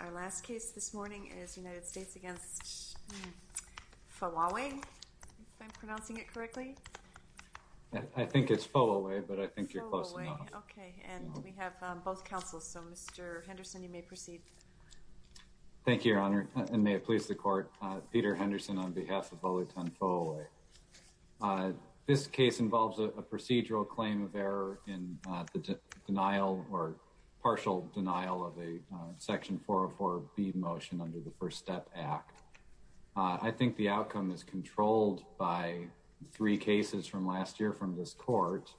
Our last case this morning is United States v. Fowowe, if I'm pronouncing it correctly. I think it's Fowowe, but I think you're close enough. Fowowe. Okay. And we have both counsels. So, Mr. Henderson, you may proceed. Thank you, Your Honor, and may it please the Court. Peter Henderson on behalf of Olaitan Fowowe. This case involves a procedural claim of error in the denial or partial denial of a section 404 B motion under the First Step Act. I think the outcome is controlled by three cases from last year from this court.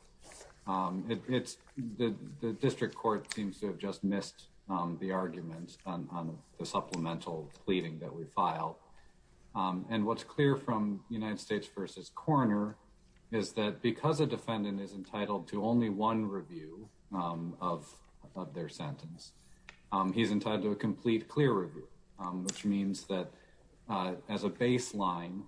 The district court seems to have just missed the argument on the supplemental pleading that we filed. And what's clear from United States v. Coroner is that because a defendant is entitled to only one review of their sentence, he's entitled to a complete clear review, which means that as a baseline,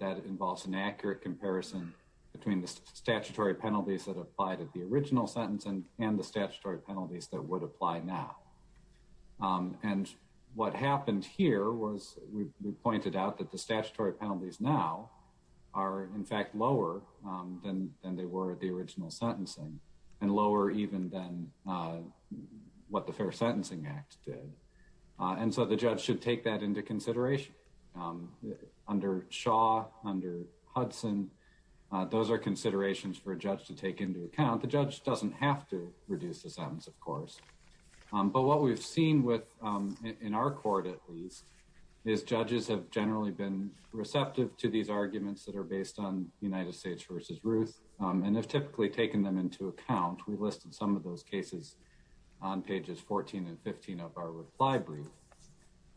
that involves an accurate comparison between the statutory penalties that applied at the original sentence and the statutory penalties that would apply now. And what happened here was we pointed out that the statutory penalties now are in fact lower than they were at the original sentencing and lower even than what the Fair Sentencing Act did. And so the judge should take that into consideration. Under Shaw, under Hudson, those are considerations for a judge to take into account. The judge doesn't have to reduce the sentence, of course. But what we've seen with, in our court at least, is judges have generally been receptive to these arguments that are based on United States v. Ruth and have typically taken them into account. We listed some of those cases on pages 14 and 15 of our reply brief.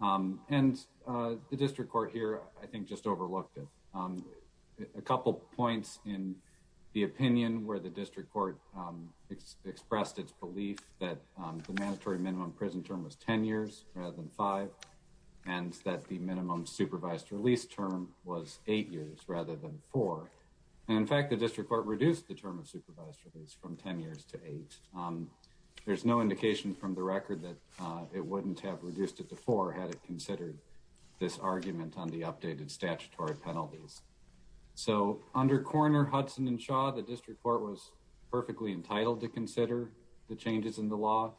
And the district court here, I think, just overlooked it. A couple points in the opinion where the district court expressed its belief that the mandatory minimum prison term was 10 years rather than 5 and that the minimum supervised release term was 8 years rather than 4. And in fact, the district court reduced the term of supervised release from 10 years to 8. There's no indication from the record that it wouldn't have reduced it to 4 had it considered this argument on the updated statutory penalties. So under Coroner Hudson and Shaw, the district court was perfectly entitled to consider the changes in the law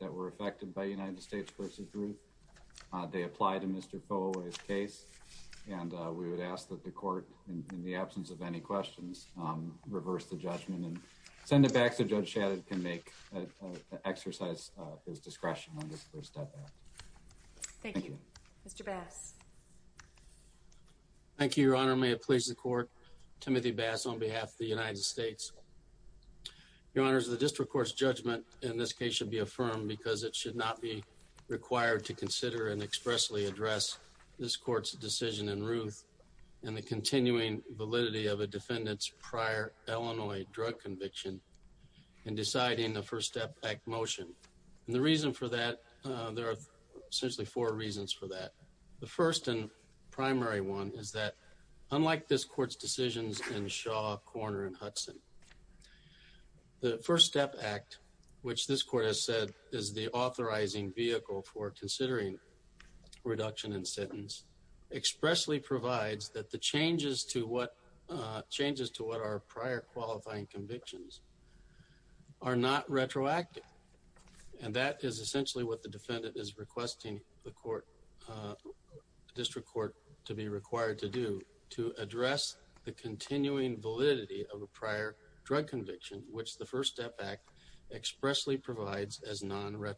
that were affected by United States v. Ruth. They applied to Mr. Foley's case. And we would ask that the court, in the absence of any questions, reverse the judgment and send it back so Judge Shadid can make an exercise of his discretion on this first step back. Thank you. Mr. Bass. Thank you, Your Honor. May it please the court. Timothy Bass on behalf of the United States. Your Honor, the district court's judgment in this case should be affirmed because it should not be required to consider and expressly address this court's decision in Ruth and the continuing validity of a defendant's prior Illinois drug conviction in deciding the first step back motion. And the reason for that, there are essentially four reasons for that. The first and primary one is that unlike this court's decisions in Shaw, Coroner, and Hudson, the first step act, which this court has said is the authorizing vehicle for considering reduction in sentence, expressly provides that the changes to what, changes to what are prior qualifying convictions, are not retroactive. And that is essentially what the defendant is requesting the court, district court, to be required to do, to address the continuing validity of a prior drug conviction, which the first step act expressly provides as non-retroactive.